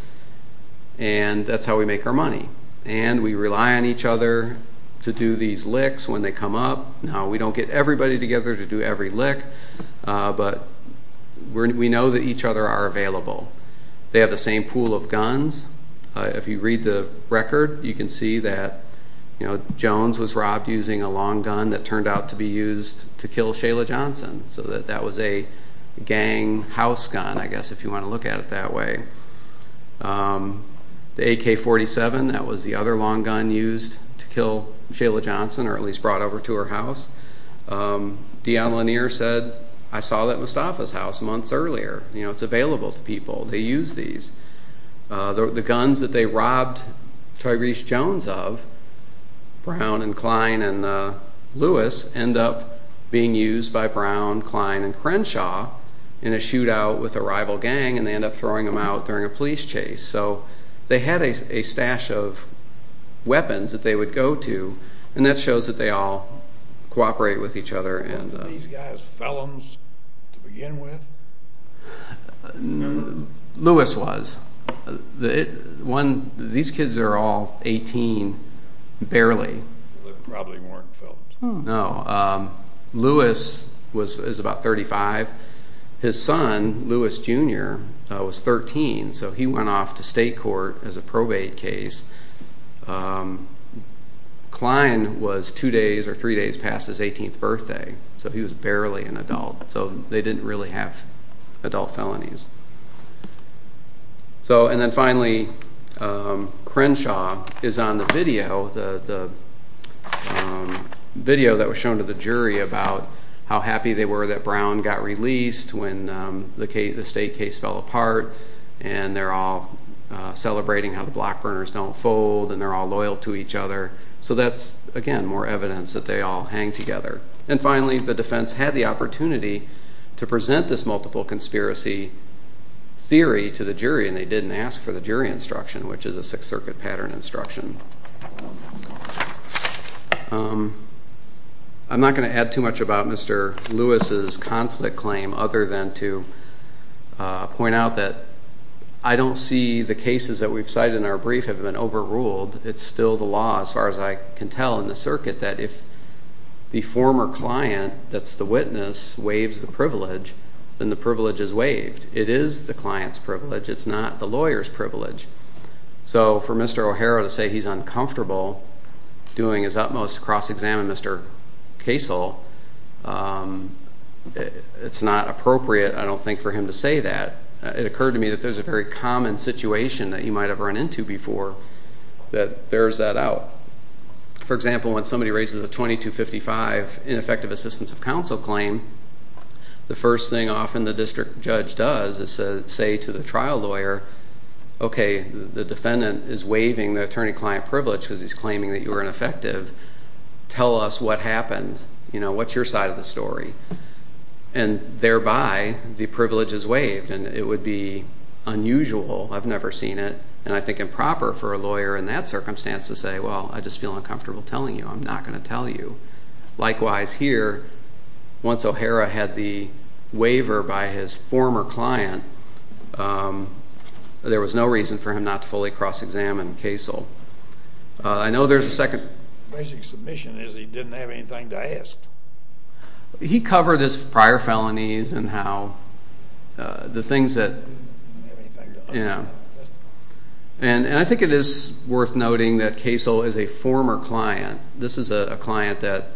and that's how we make our money. And we rely on each other to do these licks when they come up. Now, we don't get everybody together to do every lick, but we know that each other are available. They have the same pool of guns. If you read the record, you can see that Jones was robbed using a long gun that turned out to be used to kill Shayla Johnson. So that was a gang house gun, I guess, if you want to look at it that way. The AK-47, that was the other long gun used to kill Shayla Johnson or at least brought over to her house. Dion Lanier said, I saw that Mustafa's house months earlier. It's available to people. They use these. The guns that they robbed Tyrese Jones of, Brown and Klein and Lewis, end up being used by Brown, Klein, and Crenshaw in a shootout with a rival gang, and they end up throwing them out during a police chase. So they had a stash of weapons that they would go to, and that shows that they all cooperate with each other. Weren't these guys felons to begin with? No. Lewis was. These kids are all 18, barely. They probably weren't felons. No. Lewis is about 35. His son, Lewis Jr., was 13, so he went off to state court as a probate case. Klein was two days or three days past his 18th birthday, so he was barely an adult. So they didn't really have adult felonies. And then finally, Crenshaw is on the video that was shown to the jury about how happy they were that Brown got released when the state case fell apart, and they're all celebrating how the block burners don't fold, and they're all loyal to each other. So that's, again, more evidence that they all hang together. And finally, the defense had the opportunity to present this multiple conspiracy theory to the jury, and they didn't ask for the jury instruction, which is a Sixth Circuit pattern instruction. I'm not going to add too much about Mr. Lewis's conflict claim other than to point out that I don't see the cases that we've cited in our brief have been overruled. It's still the law, as far as I can tell, in the circuit that if the former client, that's the witness, waives the privilege, then the privilege is waived. It is the client's privilege. It's not the lawyer's privilege. So for Mr. O'Hara to say he's uncomfortable doing his utmost to cross-examine Mr. Kasel, it's not appropriate, I don't think, for him to say that. It occurred to me that there's a very common situation that you might have run into before that bears that out. For example, when somebody raises a 2255 ineffective assistance of counsel claim, the first thing often the district judge does is say to the trial lawyer, okay, the defendant is waiving the attorney-client privilege because he's claiming that you were ineffective. Tell us what happened. What's your side of the story? And thereby, the privilege is waived, and it would be unusual. I've never seen it, and I think improper for a lawyer in that circumstance to say, well, I just feel uncomfortable telling you. I'm not going to tell you. Likewise here, once O'Hara had the waiver by his former client, there was no reason for him not to fully cross-examine Kasel. I know there's a second. The basic submission is he didn't have anything to ask. He covered his prior felonies and how the things that, you know. And I think it is worth noting that Kasel is a former client. This is a client that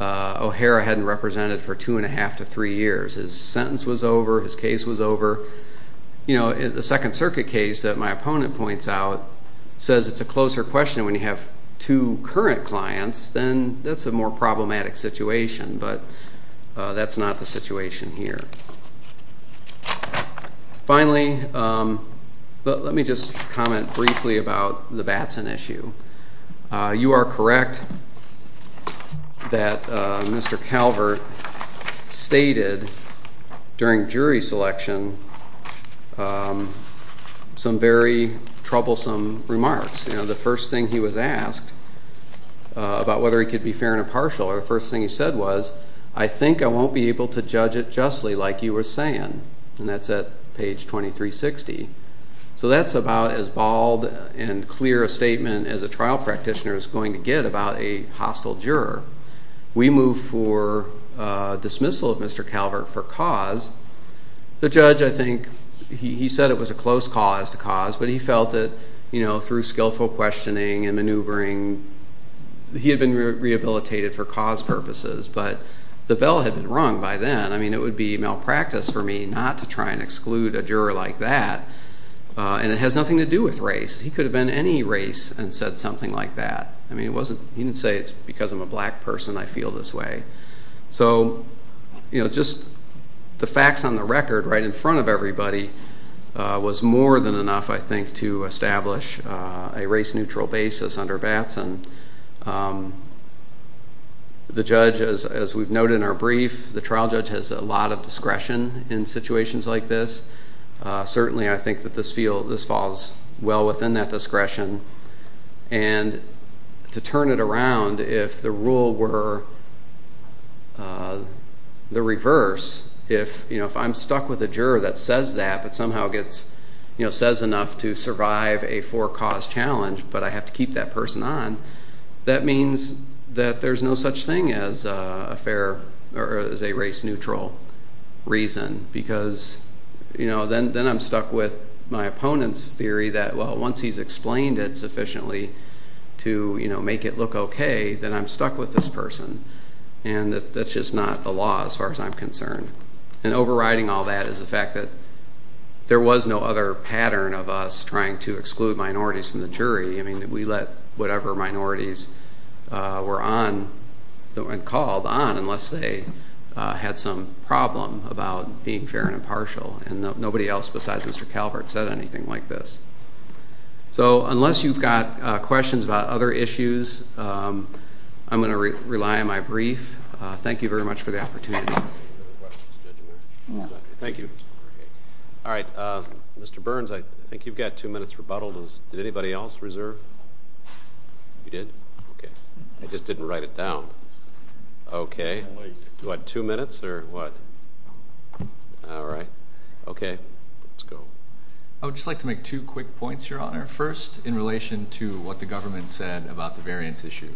O'Hara hadn't represented for two-and-a-half to three years. His sentence was over. His case was over. You know, the Second Circuit case that my opponent points out says it's a closer question when you have two current clients, then that's a more problematic situation. But that's not the situation here. Finally, let me just comment briefly about the Batson issue. You are correct that Mr. Calvert stated during jury selection some very troublesome remarks. You know, the first thing he was asked about whether he could be fair and impartial, or the first thing he said was, I think I won't be able to judge it justly like you were saying, and that's at page 2360. So that's about as bald and clear a statement as a trial practitioner is going to get about a hostile juror. We move for dismissal of Mr. Calvert for cause. The judge, I think, he said it was a close cause to cause, but he felt that, you know, through skillful questioning and maneuvering, he had been rehabilitated for cause purposes, but the bell had been rung by then. I mean, it would be malpractice for me not to try and exclude a juror like that, and it has nothing to do with race. He could have been any race and said something like that. I mean, he didn't say it's because I'm a black person I feel this way. So, you know, just the facts on the record right in front of everybody was more than enough, I think, to establish a race-neutral basis under VATS, and the judge, as we've noted in our brief, the trial judge has a lot of discretion in situations like this. Certainly I think that this falls well within that discretion, and to turn it around if the rule were the reverse, if I'm stuck with a juror that says that, but somehow says enough to survive a four-cause challenge, but I have to keep that person on, that means that there's no such thing as a race-neutral reason because then I'm stuck with my opponent's theory that, well, once he's explained it sufficiently to make it look okay, then I'm stuck with this person, and that's just not the law as far as I'm concerned. And overriding all that is the fact that there was no other pattern of us trying to exclude minorities from the jury. I mean, we let whatever minorities were on and called on unless they had some problem about being fair and impartial, and nobody else besides Mr. Calvert said anything like this. So unless you've got questions about other issues, I'm going to rely on my brief. Thank you very much for the opportunity. Thank you. All right. Mr. Burns, I think you've got two minutes rebuttal. Did anybody else reserve? You did? Okay. I just didn't write it down. Okay. What, two minutes, or what? All right. Okay. Let's go. I would just like to make two quick points, Your Honor, first in relation to what the government said about the variance issue.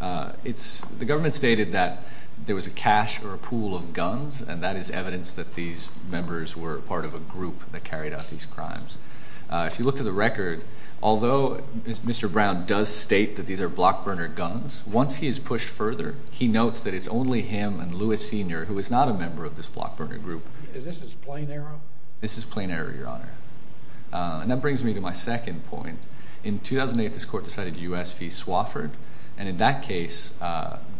The government stated that there was a cache or a pool of guns, and that is evidence that these members were part of a group that carried out these crimes. If you look to the record, although Mr. Brown does state that these are block burner guns, once he is pushed further, he notes that it's only him and Lewis Sr., who is not a member of this block burner group. This is plain error? This is plain error, Your Honor. And that brings me to my second point. In 2008, this court decided U.S. v. Swofford, and in that case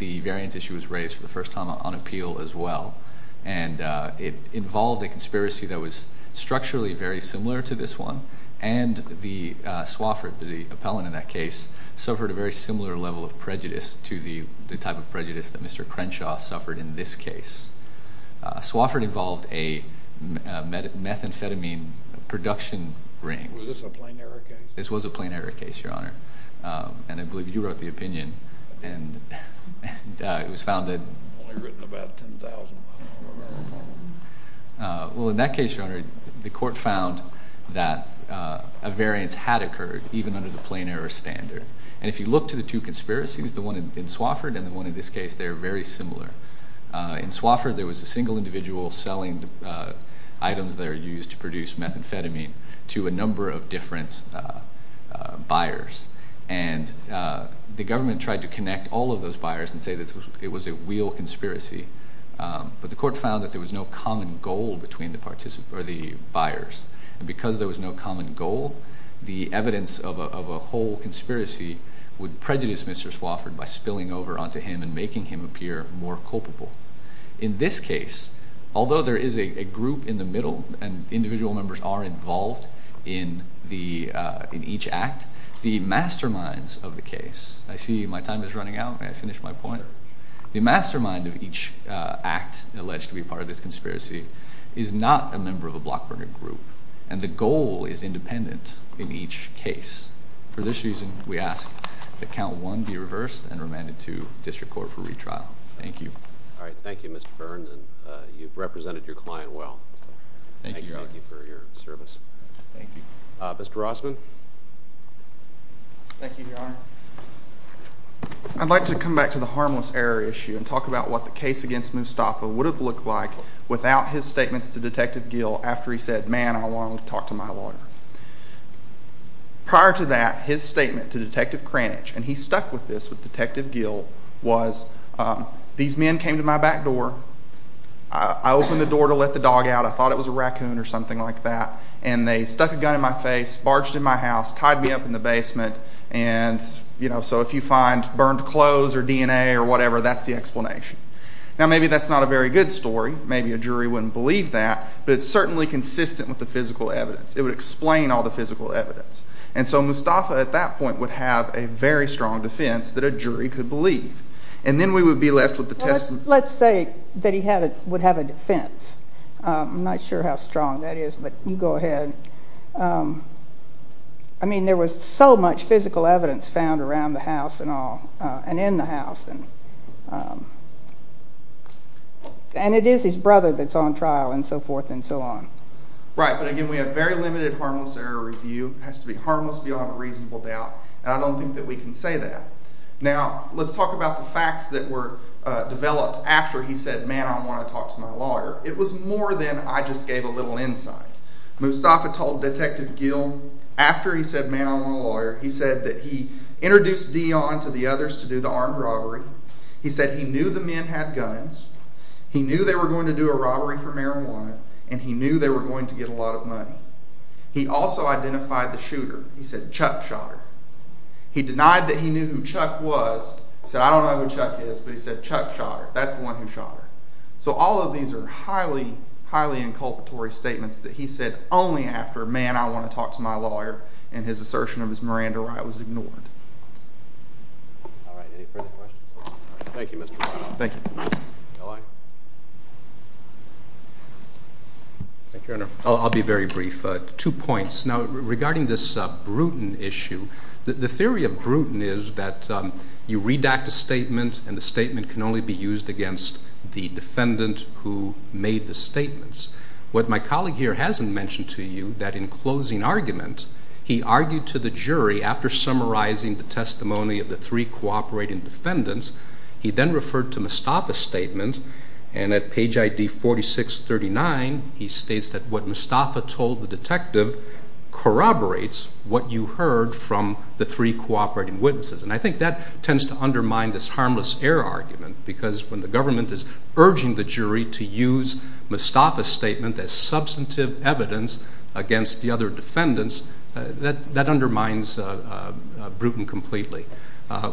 the variance issue was raised for the first time on appeal as well. And it involved a conspiracy that was structurally very similar to this one, and the Swofford, the appellant in that case, suffered a very similar level of prejudice to the type of prejudice that Mr. Crenshaw suffered in this case. Swofford involved a methamphetamine production ring. Was this a plain error case? This was a plain error case, Your Honor. And I believe you wrote the opinion, and it was found that I've only written about 10,000. Well, in that case, Your Honor, the court found that a variance had occurred, even under the plain error standard. And if you look to the two conspiracies, the one in Swofford and the one in this case, they're very similar. In Swofford, there was a single individual selling items that are used to produce methamphetamine to a number of different buyers, and the government tried to connect all of those buyers and say that it was a real conspiracy. But the court found that there was no common goal between the buyers. And because there was no common goal, the evidence of a whole conspiracy would prejudice Mr. Swofford by spilling over onto him and making him appear more culpable. In this case, although there is a group in the middle, and individual members are involved in each act, the masterminds of the case, I see my time is running out, may I finish my point? However, the mastermind of each act alleged to be part of this conspiracy is not a member of a BlockBurner group, and the goal is independent in each case. For this reason, we ask that Count 1 be reversed and remanded to district court for retrial. Thank you. All right. Thank you, Mr. Byrne, and you've represented your client well. Thank you for your service. Mr. Rossman? Thank you, Your Honor. I'd like to come back to the harmless error issue and talk about what the case against Mustafa would have looked like without his statements to Detective Gill after he said, man, I want to talk to my lawyer. Prior to that, his statement to Detective Kranich, and he stuck with this with Detective Gill, was these men came to my back door. I opened the door to let the dog out. I thought it was a raccoon or something like that. And they stuck a gun in my face, barged in my house, tied me up in the basement, and, you know, so if you find burned clothes or DNA or whatever, that's the explanation. Now, maybe that's not a very good story. Maybe a jury wouldn't believe that, but it's certainly consistent with the physical evidence. It would explain all the physical evidence. And so Mustafa at that point would have a very strong defense that a jury could believe. And then we would be left with the testimony. Let's say that he would have a defense. I'm not sure how strong that is, but you go ahead. I mean, there was so much physical evidence found around the house and in the house. And it is his brother that's on trial and so forth and so on. Right, but again, we have very limited harmless error review. It has to be harmless beyond a reasonable doubt, and I don't think that we can say that. Now, let's talk about the facts that were developed after he said, man, I want to talk to my lawyer. It was more than I just gave a little insight. Mustafa told Detective Gill after he said, man, I want a lawyer, he said that he introduced Dion to the others to do the armed robbery. He said he knew the men had guns. He knew they were going to do a robbery for marijuana, and he knew they were going to get a lot of money. He also identified the shooter. He said Chuck shot her. He denied that he knew who Chuck was. He said, I don't know who Chuck is, but he said Chuck shot her. That's the one who shot her. So all of these are highly, highly inculpatory statements that he said only after, man, I want to talk to my lawyer, and his assertion of his marijuana right was ignored. All right. Any further questions? Thank you, Mr. Brown. Thank you. No, I. Thank you, Your Honor. I'll be very brief. Two points. Now, regarding this Bruton issue, the theory of Bruton is that you redact a statement and the statement can only be used against the defendant who made the statements. What my colleague here hasn't mentioned to you, that in closing argument, he argued to the jury after summarizing the testimony of the three cooperating defendants, he then referred to Mustafa's statement, and at page ID 4639, he states that what Mustafa told the detective corroborates what you heard from the three cooperating witnesses. And I think that tends to undermine this harmless error argument because when the government is urging the jury to use Mustafa's statement as substantive evidence against the other defendants, that undermines Bruton completely.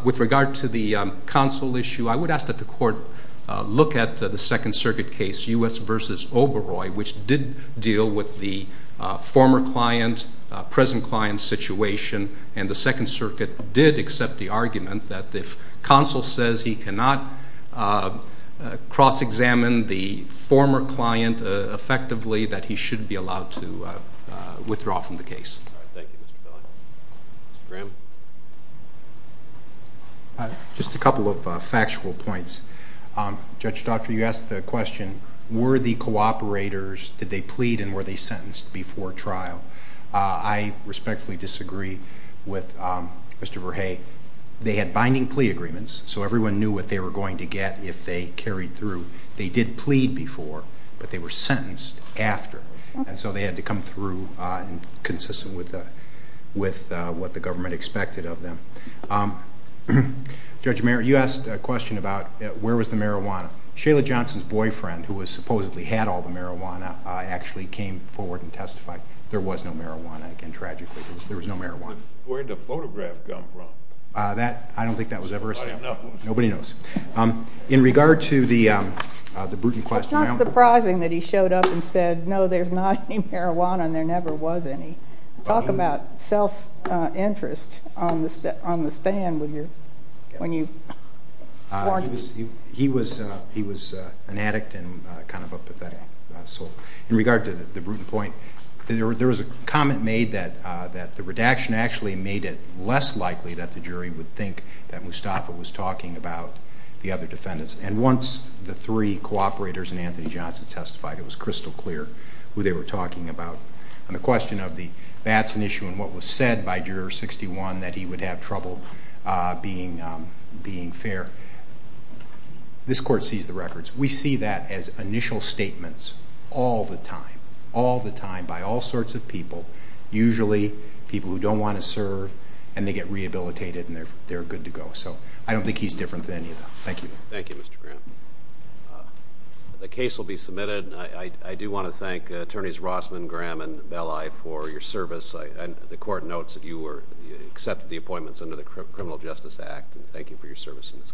With regard to the counsel issue, I would ask that the court look at the Second Circuit case, U.S. v. Oberoi, which did deal with the former client, present client situation, and the Second Circuit did accept the argument that if counsel says he cannot cross-examine the former client effectively, that he should be allowed to withdraw from the case. All right. Thank you, Mr. Feller. Mr. Graham? Just a couple of factual points. Judge Doctor, you asked the question, were the cooperators, did they plead, and were they sentenced before trial? I respectfully disagree with Mr. Verhey. They had binding plea agreements, so everyone knew what they were going to get if they carried through. They did plead before, but they were sentenced after, and so they had to come through consistent with what the government expected of them. Judge Merritt, you asked a question about where was the marijuana. Shayla Johnson's boyfriend, who supposedly had all the marijuana, actually came forward and testified. There was no marijuana, again, tragically. There was no marijuana. Where did the photograph come from? I don't think that was ever established. Nobody knows. In regard to the Bruton question, It's not surprising that he showed up and said, no, there's not any marijuana, and there never was any. Talk about self-interest on the stand when you sworn. He was an addict and kind of a pathetic soul. In regard to the Bruton point, there was a comment made that the redaction actually made it less likely that the jury would think that Mustafa was talking about the other defendants, and once the three cooperators and Anthony Johnson testified, it was crystal clear who they were talking about. On the question of the Batson issue and what was said by Juror 61, that he would have trouble being fair, this Court sees the records. We see that as initial statements all the time, all the time by all sorts of people, usually people who don't want to serve, and they get rehabilitated and they're good to go. So I don't think he's different than any of them. Thank you. Thank you, Mr. Graham. The case will be submitted. I do want to thank Attorneys Rossman, Graham, and Belli for your service. The Court notes that you accepted the appointments under the Criminal Justice Act, and thank you for your service in this case.